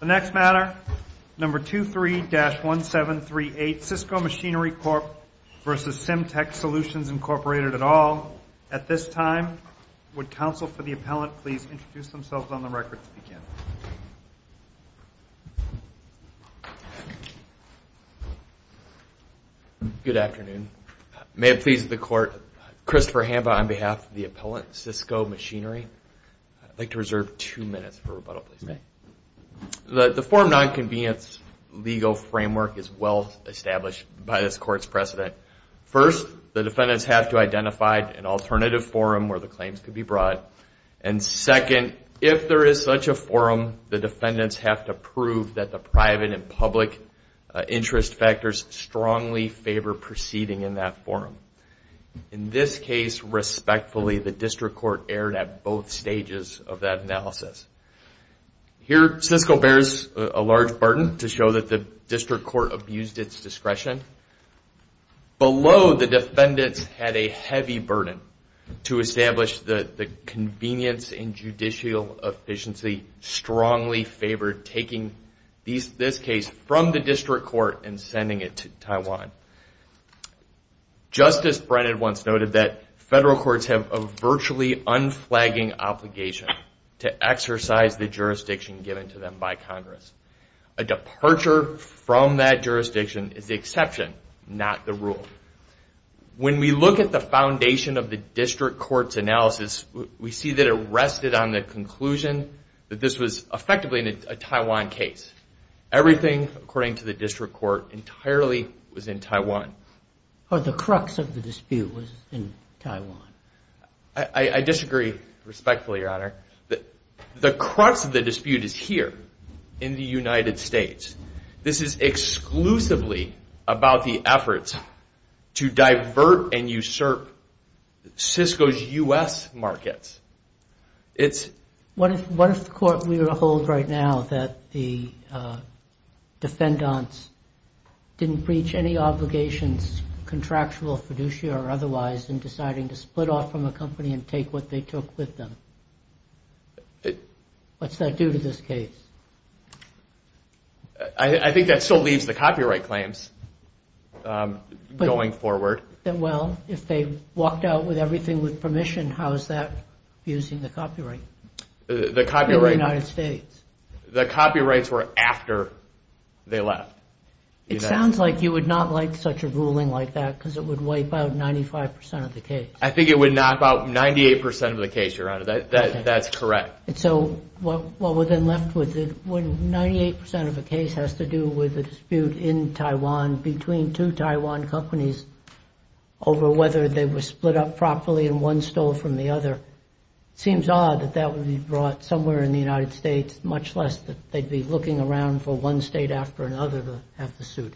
The next matter, No. 23-1738, Sysco Machinery Corp. v. Cymtek Solutions, Inc. at all. At this time, would counsel for the appellant please introduce themselves on the record to begin? Good afternoon. May it please the court, Christopher Hamba on behalf of the appellant, Sysco Machinery. I'd like to reserve two minutes for rebuttal, please. The forum non-convenience legal framework is well established by this court's precedent. First, the defendants have to identify an alternative forum where the claims could be brought. And second, if there is such a forum, the defendants have to prove that the private and public interest factors strongly favor proceeding in that forum. In this case, respectfully, the district court erred at both stages of that analysis. Here, Sysco bears a large burden to show that the district court abused its discretion. Below, the defendants had a heavy burden to establish the convenience and judicial efficiency strongly favored taking this case from the district court and sending it to Taiwan. Justice Brennan once noted that federal courts have a virtually unflagging obligation to exercise the jurisdiction given to them by Congress. A departure from that jurisdiction is the exception, not the rule. When we look at the foundation of the district court's analysis, we see that it rested on the conclusion that this was effectively a Taiwan case. Everything, according to the district court, entirely was in Taiwan. Or the crux of the dispute was in Taiwan. I disagree respectfully, Your Honor. The crux of the dispute is here, in the United States. This is exclusively about the efforts to divert and usurp Sysco's U.S. markets. What if the court were to hold right now that the defendants didn't breach any obligations, contractual, fiduciary, or otherwise, in deciding to split off from a company and take what they took with them? What's that do to this case? I think that still leaves the copyright claims going forward. Well, if they walked out with everything with permission, how is that abusing the copyright in the United States? The copyrights were after they left. It sounds like you would not like such a ruling like that, because it would wipe out 95% of the case. I think it would knock out 98% of the case, Your Honor. That's correct. And so, what we're then left with, 98% of the case has to do with a dispute in Taiwan between two Taiwan companies over whether they were split up properly and one stole from the other. It seems odd that that would be brought somewhere in the United States, much less that they'd be looking around for one state after another to have the suit.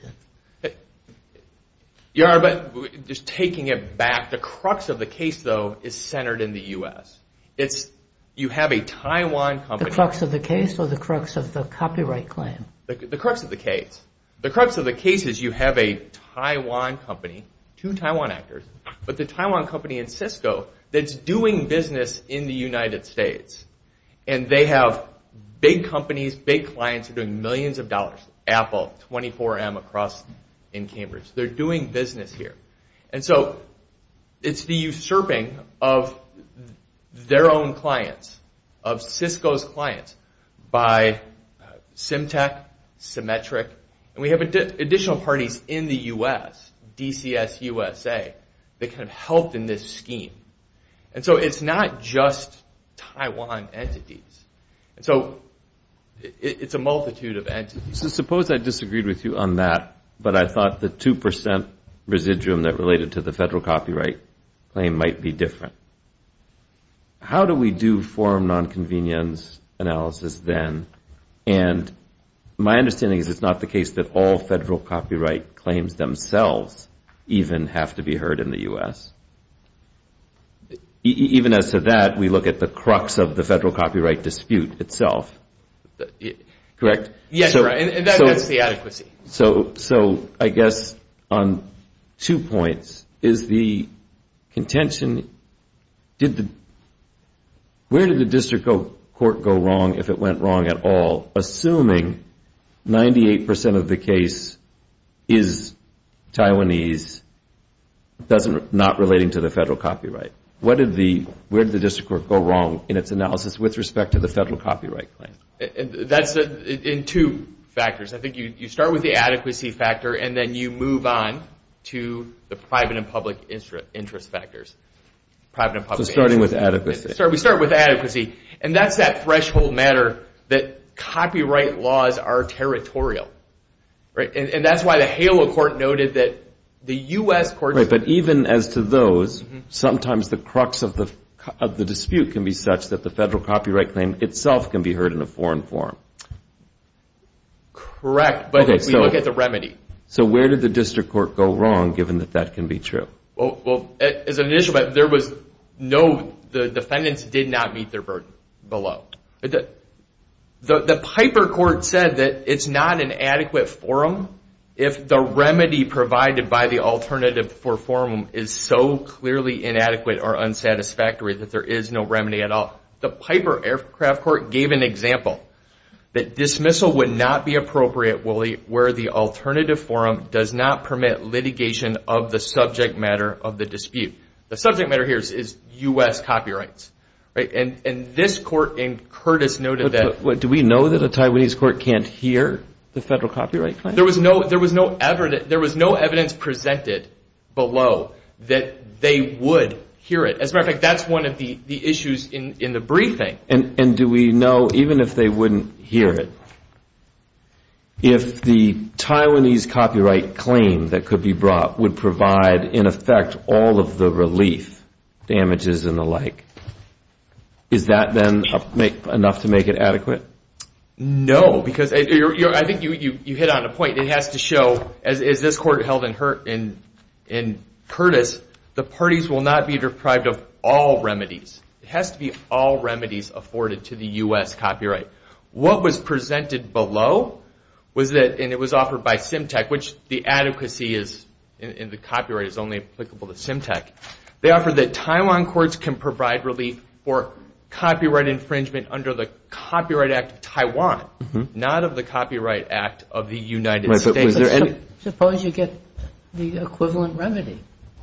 Your Honor, just taking it back, the crux of the case, though, is centered in the US. You have a Taiwan company. The crux of the case or the crux of the copyright claim? The crux of the case. The crux of the case is you have a Taiwan company, two Taiwan actors, but the Taiwan company in Cisco that's doing business in the United States, and they have big companies, big clients who are doing millions of dollars. Apple, 24M across in Cambridge. They're doing business here. And so, it's the usurping of their own clients, of Cisco's clients, by Symtec, Symetric, and we have additional parties in the US, DCS USA, that kind of helped in this scheme. And so, it's not just Taiwan entities. And so, it's a multitude of entities. So, suppose I disagreed with you on that, but I thought the 2% residuum that related to the federal copyright claim might be different. How do we do forum non-convenience analysis then? And my understanding is it's not the case that all federal copyright claims themselves even have to be heard in the US. Even as to that, we look at the crux of the federal copyright dispute itself. Correct? Yes, right. And that's the adequacy. So, I guess, on two points, is the contention, did the, where did the district court go wrong, if it went wrong at all, assuming 98% of the case is Taiwanese, does not relating to the federal copyright? What did the, where did the district court go wrong in its analysis with respect to the federal copyright claim? That's in two factors. I think you start with the adequacy factor, and then you move on to the private and public interest factors. So, starting with adequacy. We start with adequacy. And that's that threshold matter that copyright laws are territorial, right? And that's why the HALA court noted that the US court... Right, but even as to those, sometimes the crux of the dispute can be such that the federal copyright claim itself can be heard in a foreign forum. Correct, but we look at the remedy. So, where did the district court go wrong, given that that can be true? Well, as an issue, but there was no, the defendants did not meet their burden below. The Piper court said that it's not an adequate forum, if the remedy provided by the alternative for forum is so clearly inadequate or unsatisfactory that there is no remedy at all. The Piper aircraft court gave an example that dismissal would not be appropriate where the alternative forum does not permit litigation of the subject matter of the dispute. The subject matter here is US copyrights, right? And this court in Curtis noted that... But do we know that a Taiwanese court can't hear the federal copyright claim? There was no evidence presented below that they would hear it. As a matter of fact, that's one of the issues in the briefing. And do we know even if they wouldn't hear it? If the Taiwanese copyright claim that could be brought would provide in effect all of the relief damages and the like, is that then enough to make it adequate? No, because I think you hit on a point. It has to show, as this court held in Curtis, the parties will not be deprived of all remedies. It has to be all remedies afforded to the US copyright. What was presented below was that, and it was offered by Symtec, which the adequacy is in the copyright is only applicable to Symtec. They offered that Taiwan courts can provide relief for copyright infringement under the Copyright Act of Taiwan, not of the Copyright Act of the United States. And... Suppose you get the equivalent remedy.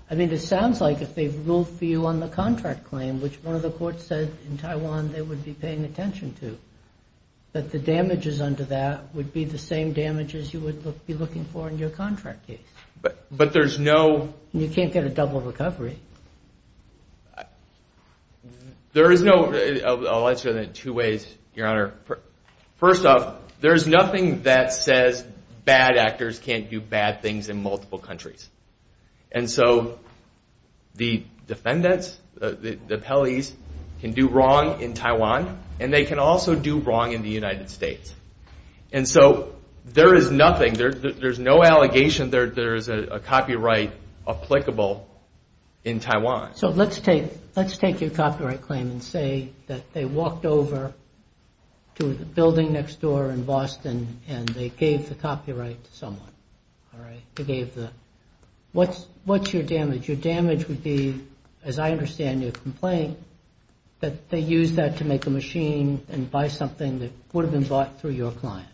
I mean, it sounds like if they ruled for you on the contract claim, which one of the courts said in Taiwan they would be paying attention to, that the damages under that would be the same damages you would be looking for in your contract case. But there's no... And you can't get a double recovery. There is no... I'll answer that in two ways, Your Honor. First off, there's nothing that says bad actors can't do bad things in multiple countries. And so the defendants, the appellees, can do wrong in Taiwan, and they can also do wrong in the United States. And so there is nothing, there's no allegation there is a copyright applicable in Taiwan. So let's take your copyright claim and say that they walked over to the building next door in Boston, and they gave the copyright to someone, all right? They gave the... What's your damage? Your damage would be, as I understand your complaint, that they used that to make a machine and buy something that would have been bought through your client.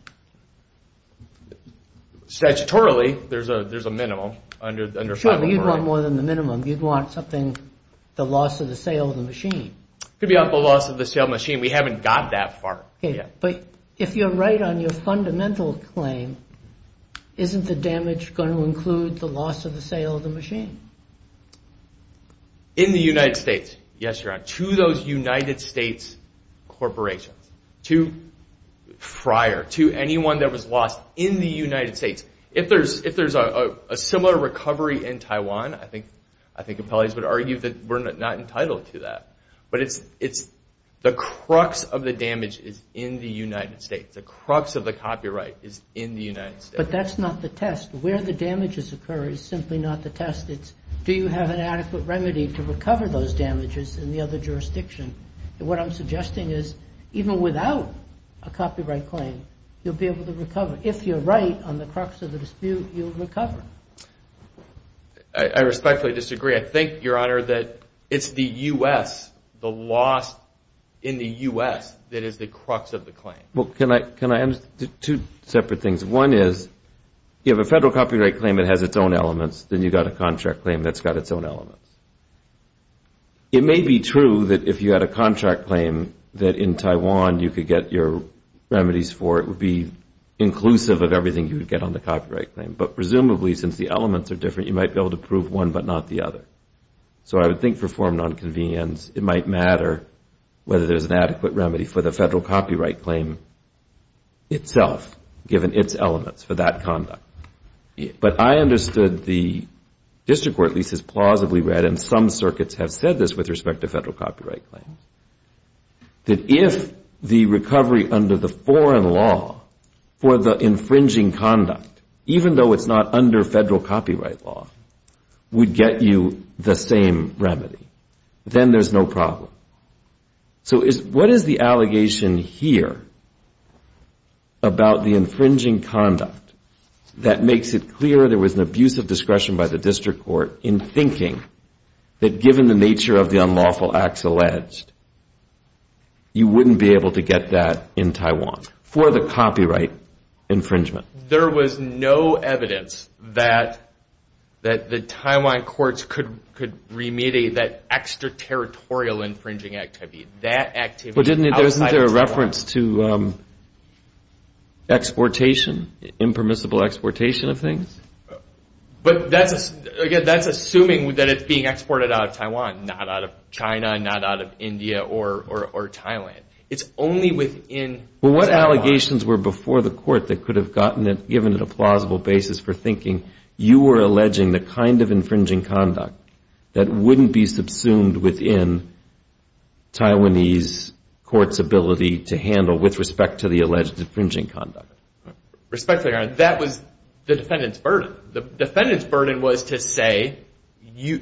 Statutorily, there's a minimum under... Sure, but you'd want more than the minimum. You'd want something, the loss of the sale of the machine. It could be the loss of the sale of the machine. We haven't got that far yet. But if you're right on your fundamental claim, isn't the damage going to include the loss of the sale of the machine? In the United States, yes, Your Honor, to those United States corporations, to Fryer, to anyone that was lost in the United States. If there's a similar recovery in Taiwan, I think appellees would argue that we're not entitled to that. But it's the crux of the damage is in the United States. The crux of the copyright is in the United States. But that's not the test. Where the damages occur is simply not the test. It's do you have an adequate remedy to recover those damages in the other jurisdiction? And what I'm suggesting is even without a copyright claim, you'll be able to recover. If you're right on the crux of the dispute, you'll recover. I respectfully disagree. I think, Your Honor, that it's the U.S., the loss in the U.S., that is the crux of the claim. Well, can I add two separate things? One is, you have a federal copyright claim that has its own elements. Then you've got a contract claim that's got its own elements. It may be true that if you had a contract claim that in Taiwan you could get your remedies for, it would be inclusive of everything you would get on the copyright claim. But presumably, since the elements are different, you might be able to prove one but not the other. So I would think for form nonconvenience, it might matter whether there's an adequate remedy for the federal copyright claim itself, given its elements for that conduct. But I understood the district court, at least as plausibly read, and some circuits have said this with respect to federal copyright claims, that if the recovery under the foreign law for the infringing conduct, even though it's not under federal copyright law, would get you the same remedy, then there's no problem. So what is the allegation here about the infringing conduct that makes it clear there was an abuse of discretion by the district court in thinking that, given the nature of the unlawful acts alleged, you wouldn't be able to get that in Taiwan for the copyright infringement? There was no evidence that the Taiwan courts could remediate that extraterritorial infringing activity. That activity outside of Taiwan. But isn't there a reference to exportation, impermissible exportation of things? But that's assuming that it's being exported out of Taiwan, not out of China, not out of India or Thailand. It's only within Taiwan. Well, what allegations were before the court that could have gotten it, given it a plausible basis for thinking you were alleging the kind of infringing conduct that wouldn't be subsumed within Taiwanese courts' ability to handle with respect to the alleged infringing conduct? Respectfully, Your Honor, that was the defendant's burden. The defendant's burden was to say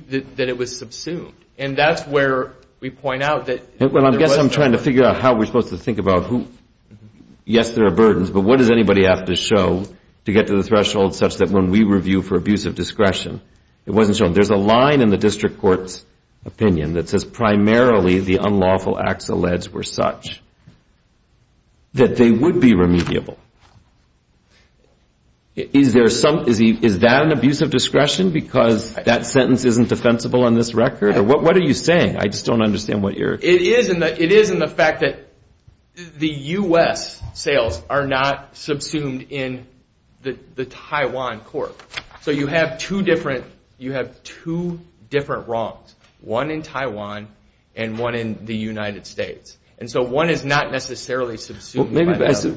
that it was subsumed. And that's where we point out that... Well, I guess I'm trying to figure out how we're supposed to think about who... Yes, there are burdens, but what does anybody have to show to get to the threshold such that when we review for abuse of discretion, it wasn't shown. There's a line in the district court's opinion that says primarily the unlawful acts alleged were such that they would be remediable. Is there some... Is that an abuse of discretion because that sentence isn't defensible on this record? What are you saying? I just don't understand what you're... It is in the fact that the U.S. sales are not subsumed in the Taiwan court. So you have two different wrongs, one in Taiwan and one in the United States. And so one is not necessarily subsumed...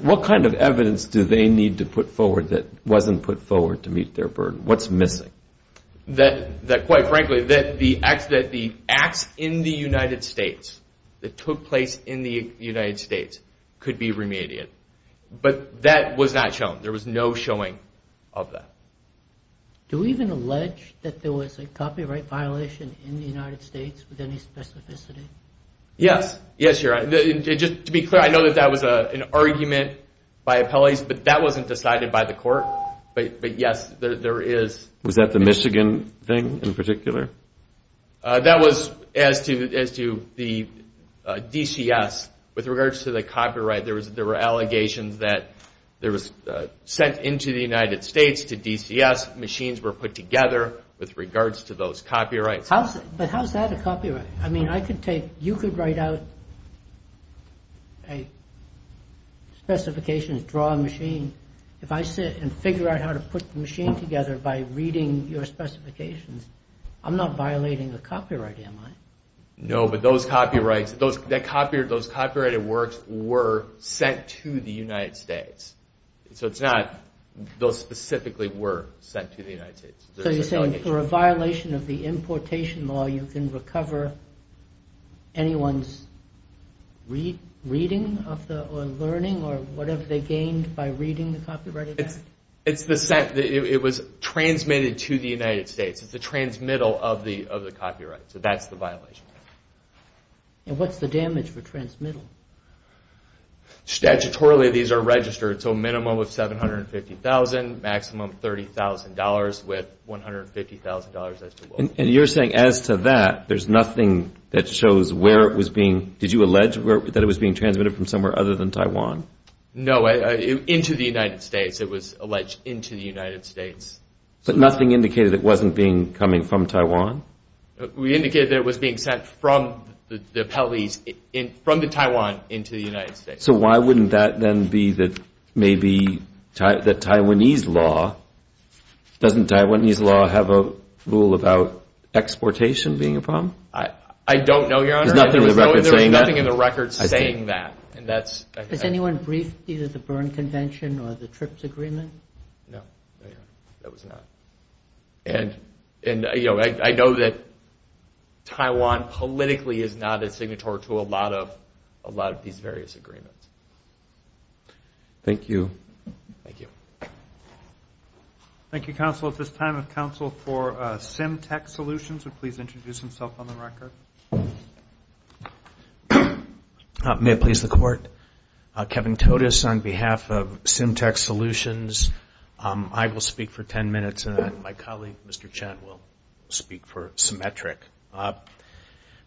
What kind of evidence do they need to put forward that wasn't put forward to meet their burden? What's missing? That quite frankly, that the acts in the United States, that took place in the United States, could be remedied. But that was not shown. There was no showing of that. Do we even allege that there was a copyright violation in the United States with any specificity? Yes. Yes, you're right. Just to be clear, I know that that was an argument by appellees, but that wasn't decided by the court. But yes, there is. Was that the Michigan thing in particular? That was as to the DCS. With regards to the copyright, there were allegations that there was... Sent into the United States to DCS, machines were put together with regards to those copyrights. But how's that a copyright? I mean, I could take... You could write out a specification, draw a machine. If I sit and figure out how to put the machine together by reading your specifications, I'm not violating the copyright, am I? No, but those copyrighted works were sent to the United States. So it's not... Those specifically were sent to the United States. So you're saying for a violation of the importation law, you can recover anyone's reading or learning, or whatever they gained by reading the copyrighted work? It's the sent... It was transmitted to the United States. It's the transmittal of the copyright. So that's the violation. And what's the damage for transmittal? Statutorily, these are registered. So minimum of $750,000, maximum $30,000, with $150,000 as to... And you're saying as to that, there's nothing that shows where it was being... Did you allege that it was being transmitted from somewhere other than Taiwan? No, into the United States. It was alleged into the United States. But nothing indicated it wasn't being coming from Taiwan? We indicated that it was being sent from the Taiwanese... From the Taiwan into the United States. So why wouldn't that then be the... Maybe the Taiwanese law... Exportation being a problem? I don't know, Your Honor. There's nothing in the record saying that? There's nothing in the record saying that. And that's... Has anyone briefed either the Berne Convention or the TRIPS Agreement? No. That was not. And I know that Taiwan politically is not a signatory to a lot of these various agreements. Thank you. Thank you. Thank you, Counsel. At this time, if Counsel for SimTech Solutions would please introduce himself on the record. May it please the Court. Kevin Todes on behalf of SimTech Solutions. I will speak for 10 minutes, and then my colleague, Mr. Chen, will speak for Symmetric.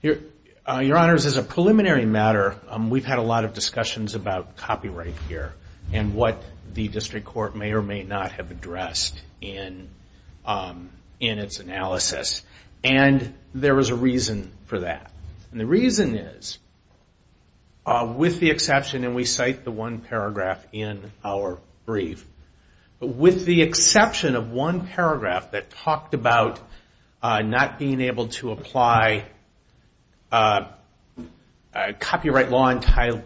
Your Honors, as a preliminary matter, we've had a lot of discussions about copyright here and what the District Court may or may not have addressed in its analysis. And there is a reason for that. And the reason is, with the exception, and we cite the one paragraph in our brief, with the exception of one paragraph that talked about not being able to apply copyright law in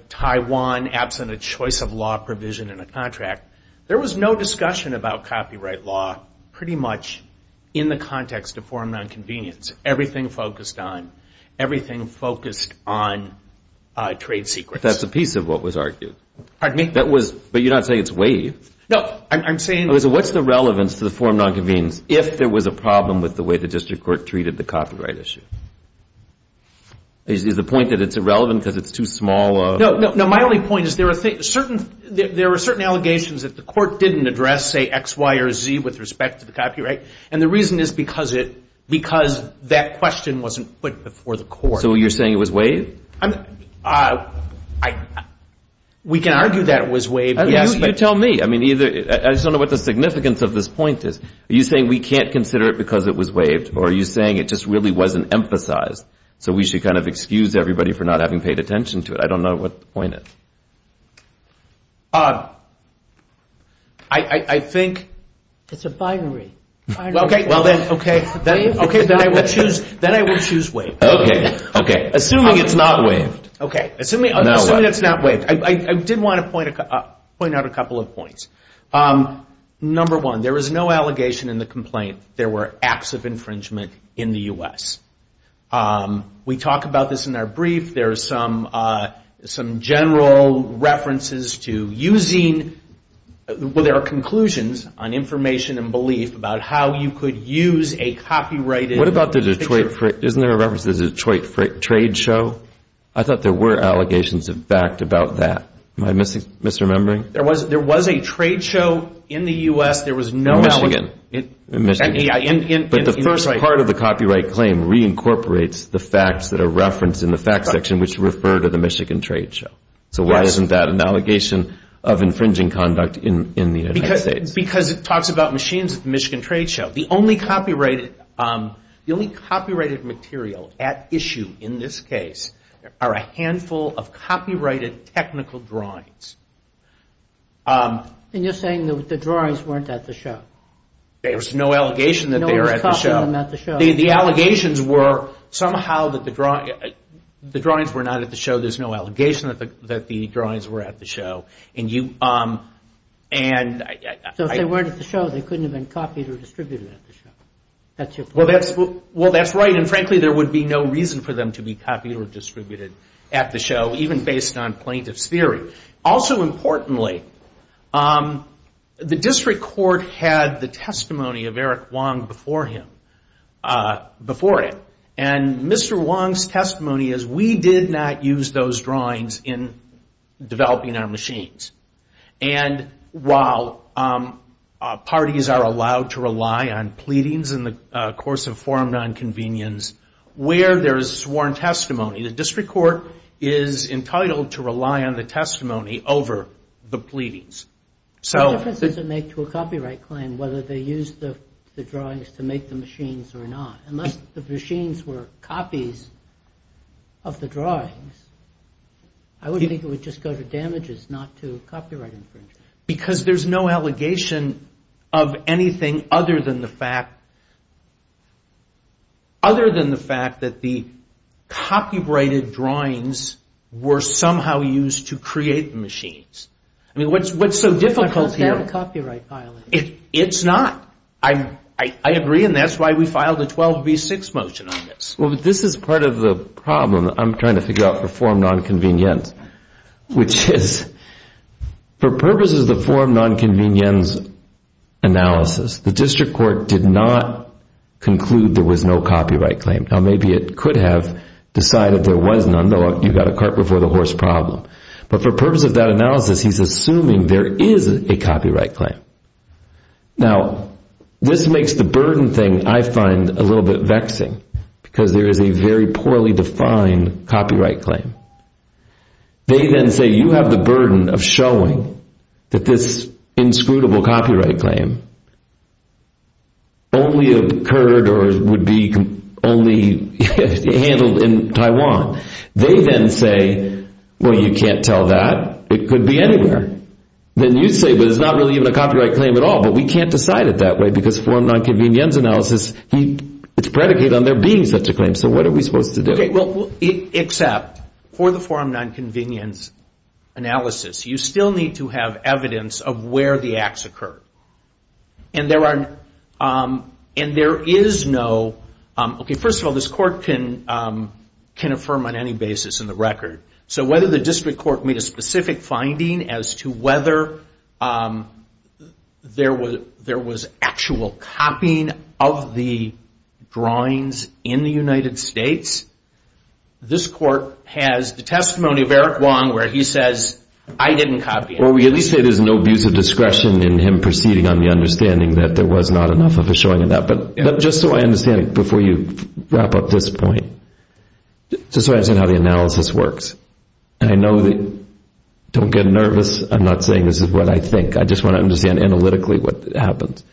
Taiwan absent a choice of law provision in a contract, there was no discussion about copyright law pretty much in the context of forum nonconvenience. Everything focused on trade secrets. That's a piece of what was argued. Pardon me? But you're not saying it's waived. No, I'm saying... What's the relevance to the forum nonconvenience if there was a problem with the way the District Court treated the copyright issue? Is the point that it's irrelevant because it's too small a... No, my only point is there are certain allegations that the Court didn't address, say X, Y, or Z, with respect to the copyright, and the reason is because that question wasn't put before the Court. So you're saying it was waived? We can argue that it was waived. You tell me. I just don't know what the significance of this point is. Are you saying we can't consider it because it was waived, or are you saying it just really wasn't emphasized so we should kind of excuse everybody for not having paid attention to it? I don't know what the point is. I think... It's a binary. Okay, then I will choose waived. Assuming it's not waived. Assuming it's not waived. I did want to point out a couple of points. Number one, there is no allegation in the complaint there were acts of infringement in the U.S. We talk about this in our brief. There are some general references to using... Well, there are conclusions on information and belief about how you could use a copyrighted picture. What about the Detroit... Isn't there a reference to the Detroit trade show? I thought there were allegations of fact about that. Am I misremembering? There was a trade show in the U.S. There was no... In Michigan. But the first part of the copyright claim reincorporates the facts that are referenced in the fact section which refer to the Michigan trade show. So why isn't that an allegation of infringing conduct in the United States? Because it talks about machines at the Michigan trade show. The only copyrighted material at issue in this case are a handful of copyrighted technical drawings. And you're saying that the drawings weren't at the show. There's no allegation that they were at the show. The allegations were somehow that the drawings were not at the show. There's no allegation that the drawings were at the show. So if they weren't at the show, they couldn't have been copied or distributed at the show. That's your point. Well, that's right. And frankly, there would be no reason for them to be copied or distributed at the show even based on plaintiff's theory. Also importantly, the district court had the testimony of Eric Wong before it. And Mr. Wong's testimony is we did not use those drawings in developing our machines. And while parties are allowed to rely on pleadings in the course of forum nonconvenience where there is sworn testimony, the district court is entitled to rely on the testimony over the pleadings. What difference does it make to a copyright claim whether they use the drawings to make the machines or not? Unless the machines were copies of the drawings, I would think it would just go to damages, not to copyright infringement. Because there's no allegation of anything other than the fact that the copyrighted drawings were somehow used to create the machines. I mean, what's so difficult here? It's not. I agree, and that's why we filed a 12B6 motion on this. Well, this is part of the problem I'm trying to figure out for forum nonconvenience, which is for purposes of the forum nonconvenience analysis, the district court did not conclude there was no copyright claim. Now, maybe it could have decided there was none. You've got a cart before the horse problem. But for purposes of that analysis, he's assuming there is a copyright claim. Now, this makes the burden thing, I find, a little bit vexing because there is a very poorly defined copyright claim. They then say, you have the burden of showing that this inscrutable copyright claim only occurred or would be only handled in Taiwan. They then say, well, you can't tell that. It could be anywhere. Then you say, but it's not really even a copyright claim at all, but we can't decide it that way because forum nonconvenience analysis, it's predicated on there being such a claim. So what are we supposed to do? Except for the forum nonconvenience analysis, you still need to have evidence of where the acts occurred. First of all, this court can affirm on any basis in the record. So whether the district court made a specific finding as to whether there was actual copying of the drawings in the United States, this court has the testimony of Eric Wong where he says, I didn't copy it. Well, we at least say there's no abuse of discretion in him proceeding on the understanding that there was not enough of a showing of that. But just so I understand it before you wrap up this point, just so I understand how the analysis works, and I know that don't get nervous. I'm not saying this is what I think. I just want to understand analytically what happens.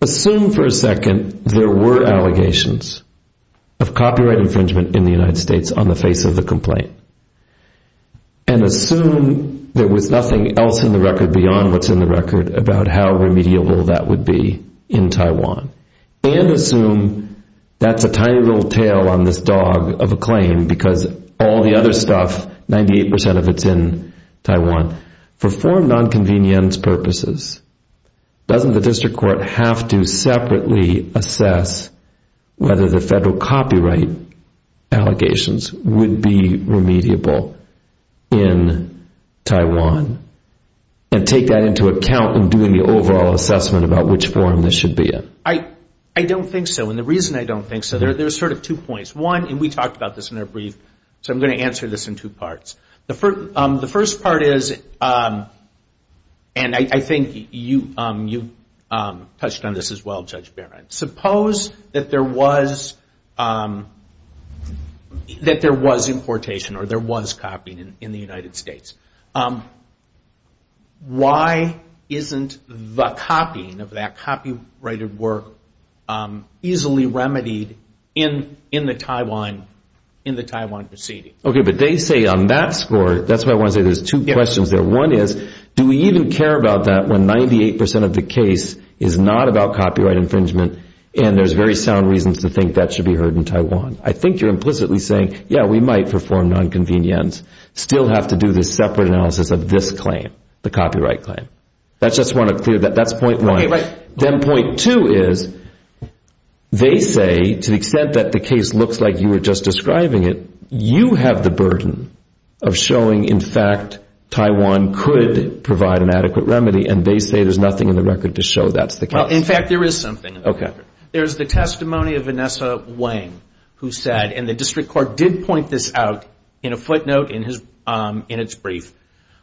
Assume for a second there were allegations of copyright infringement in the United States on the face of the complaint, and assume there was nothing else in the record and assume that's a tiny little tail on this dog of a claim because all the other stuff, 98% of it's in Taiwan. For forum nonconvenience purposes, doesn't the district court have to separately assess whether the federal copyright allegations would be remediable in Taiwan and take that into account in doing the overall assessment about which forum this should be in? I don't think so, and the reason I don't think so, there's sort of two points. One, and we talked about this in our brief, so I'm going to answer this in two parts. The first part is, and I think you touched on this as well, Judge Barron, suppose that there was importation or there was copying in the United States. Why isn't the copying of that copyrighted work easily remedied in the Taiwan proceeding? Okay, but they say on that score, that's why I want to say there's two questions there. One is, do we even care about that when 98% of the case is not about copyright infringement and there's very sound reasons to think that should be heard in Taiwan? I think you're implicitly saying, yeah, we might for forum nonconvenience still have to do this separate analysis of this claim, the copyright claim. I just want to clear that, that's point one. Then point two is, they say to the extent that the case looks like you were just describing it, you have the burden of showing, in fact, Taiwan could provide an adequate remedy and they say there's nothing in the record to show that's the case. In fact, there is something in the record. There's the testimony of Vanessa Wang who said, and the district court did point this out in a footnote in its brief.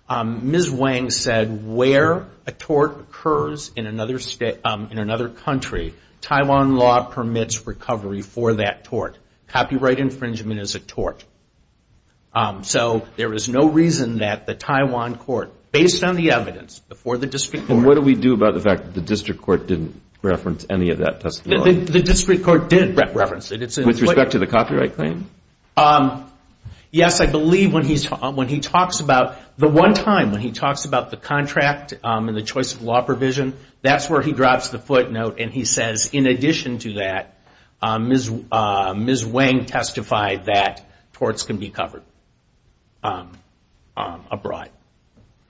Ms. Wang said where a tort occurs in another country, Taiwan law permits recovery for that tort. Copyright infringement is a tort. So there is no reason that the Taiwan court, based on the evidence before the district court. What do we do about the fact that the district court didn't reference any of that testimony? The district court did reference it. With respect to the copyright claim? Yes, I believe when he talks about the one time when he talks about the contract and the choice of law provision, that's where he drops the footnote and he says, in addition to that, Ms. Wang testified that torts can be covered abroad.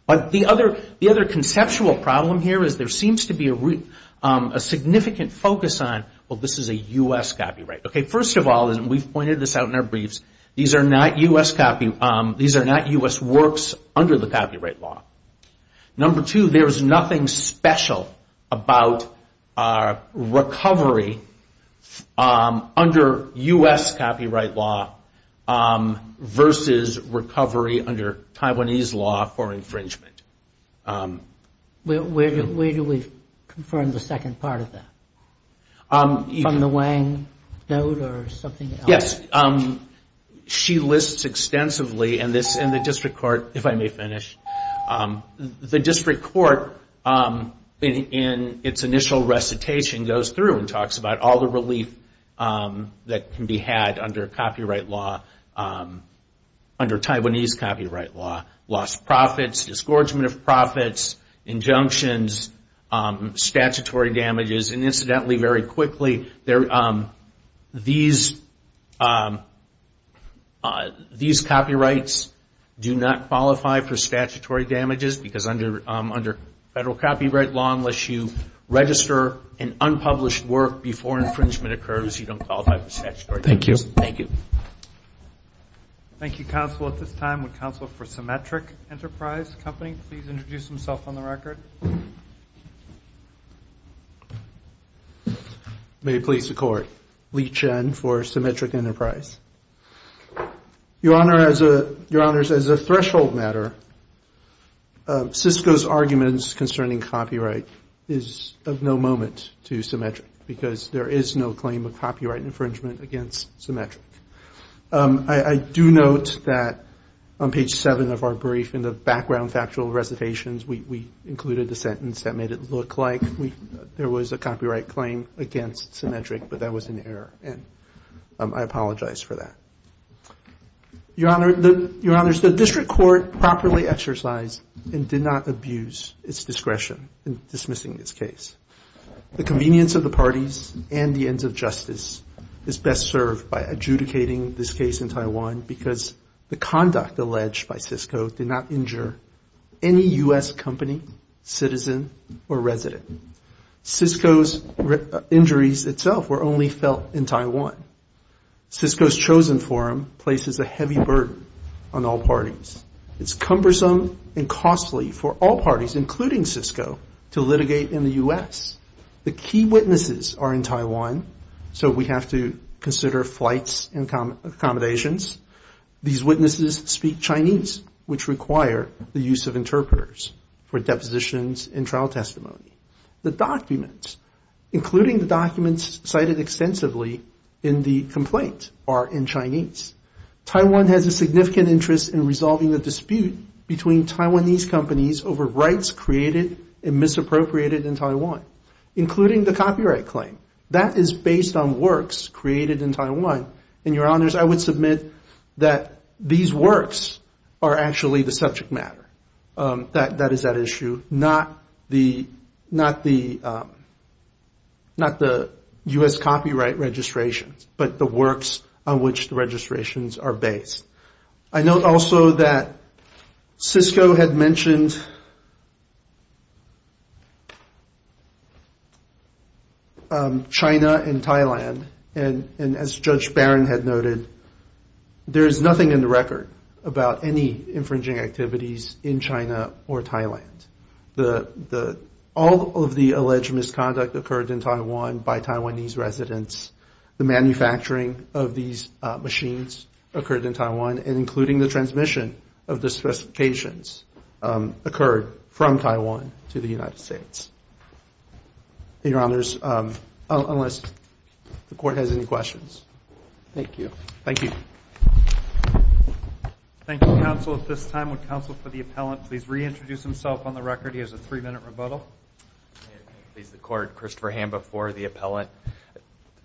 But the other conceptual problem here is there seems to be a significant focus on, well, this is a U.S. copyright. First of all, and we've pointed this out in our briefs, these are not U.S. works under the copyright law. Number two, there is nothing special about recovery under U.S. copyright law versus recovery under Taiwanese law for infringement. Where do we confirm the second part of that? From the Wang note or something else? Yes, she lists extensively, and the district court, if I may finish, the district court in its initial recitation goes through and talks about all the relief that can be had under copyright law, under Taiwanese copyright law, lost profits, disgorgement of profits, injunctions, statutory damages, and incidentally, very quickly, these copyrights do not qualify for statutory damages because under federal copyright law, unless you register an unpublished work before infringement occurs, you don't qualify for statutory damages. Thank you. Thank you, counsel. At this time, would counsel for Symmetric Enterprise Company please introduce himself on the record? May it please the Court. Lee Chen for Symmetric Enterprise. Your Honors, as a threshold matter, Cisco's arguments concerning copyright is of no moment to Symmetric because there is no claim of copyright infringement against Symmetric. I do note that on page 7 of our brief in the background factual recitations, we included the sentence that made it look like there was a copyright claim against Symmetric, but that was an error, and I apologize for that. Your Honors, the district court properly exercised and did not abuse its discretion in dismissing this case. The convenience of the parties and the ends of justice is best served by adjudicating this case in Taiwan because the conduct alleged by Cisco did not injure any U.S. company, citizen, or resident. Cisco's injuries itself were only felt in Taiwan. Cisco's chosen forum places a heavy burden on all parties. It's cumbersome and costly for all parties, including Cisco, to litigate in the U.S. The key witnesses are in Taiwan, so we have to consider flights and accommodations. These witnesses speak Chinese, which require the use of interpreters for depositions and trial testimony. The documents, including the documents cited extensively in the complaint, are in Chinese. Taiwan has a significant interest in resolving the dispute between Taiwanese companies over rights created and misappropriated in Taiwan, including the copyright claim. That is based on works created in Taiwan. And, Your Honors, I would submit that these works are actually the subject matter. That is at issue, not the U.S. copyright registrations, but the works on which the registrations are based. I note also that Cisco had mentioned China and Thailand, and as Judge Barron had noted, there is nothing in the record about any infringing activities in China or Thailand. All of the alleged misconduct occurred in Taiwan by Taiwanese residents. The manufacturing of these machines occurred in Taiwan, and including the transmission of the specifications occurred from Taiwan to the United States. Your Honors, unless the Court has any questions. Thank you. Thank you, Counsel. At this time, would Counsel for the Appellant please reintroduce himself on the record? He has a three-minute rebuttal. May it please the Court, Christopher Hamba for the Appellant.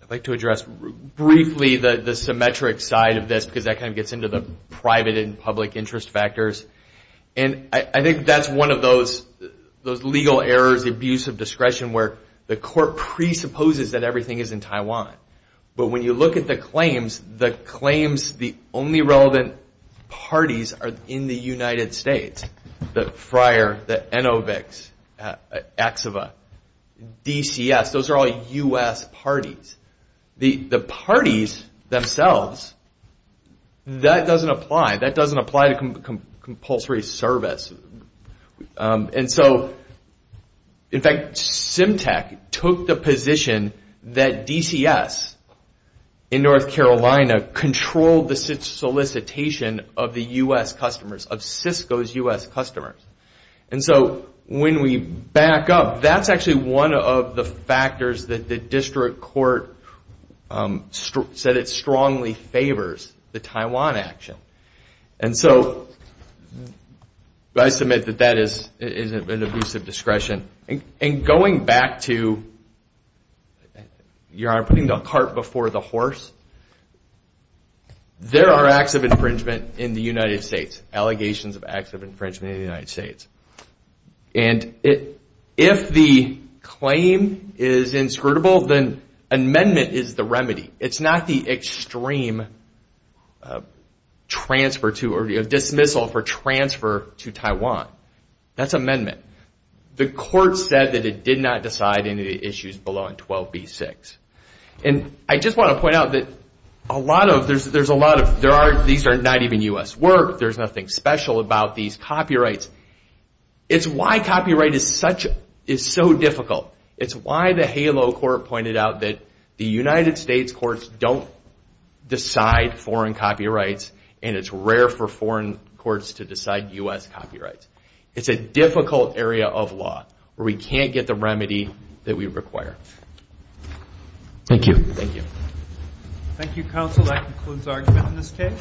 I'd like to address briefly the symmetric side of this, because that kind of gets into the private and public interest factors. And I think that's one of those legal errors, the abuse of discretion, where the Court presupposes that everything is in Taiwan. But when you look at the claims, the claims, the only relevant parties are in the United States. The Friar, the Inovix, Axiva, DCS. Those are all U.S. parties. The parties themselves, that doesn't apply. That doesn't apply to compulsory service. And so, in fact, Symtec took the position that DCS in North Carolina controlled the solicitation of the U.S. customers, of Cisco's U.S. customers. And so, when we back up, that's actually one of the factors that the District Court said it strongly favors, the Taiwan action. And so, I submit that that is an abuse of discretion. And going back to, Your Honor, putting the cart before the horse, there are acts of infringement in the United States, allegations of acts of infringement in the United States. And if the claim is inscrutable, then amendment is the remedy. It's not the extreme dismissal for transfer to Taiwan. That's amendment. The Court said that it did not decide any of the issues below on 12b-6. And I just want to point out that a lot of, there's a lot of, these are not even U.S. work, there's nothing special about these copyrights. It's why copyright is so difficult. It's why the HALO Court pointed out that the United States courts don't decide foreign copyrights, and it's rare for foreign courts to decide U.S. copyrights. It's a difficult area of law where we can't get the remedy that we require. Thank you. Thank you, Counsel. That concludes our argument in this case.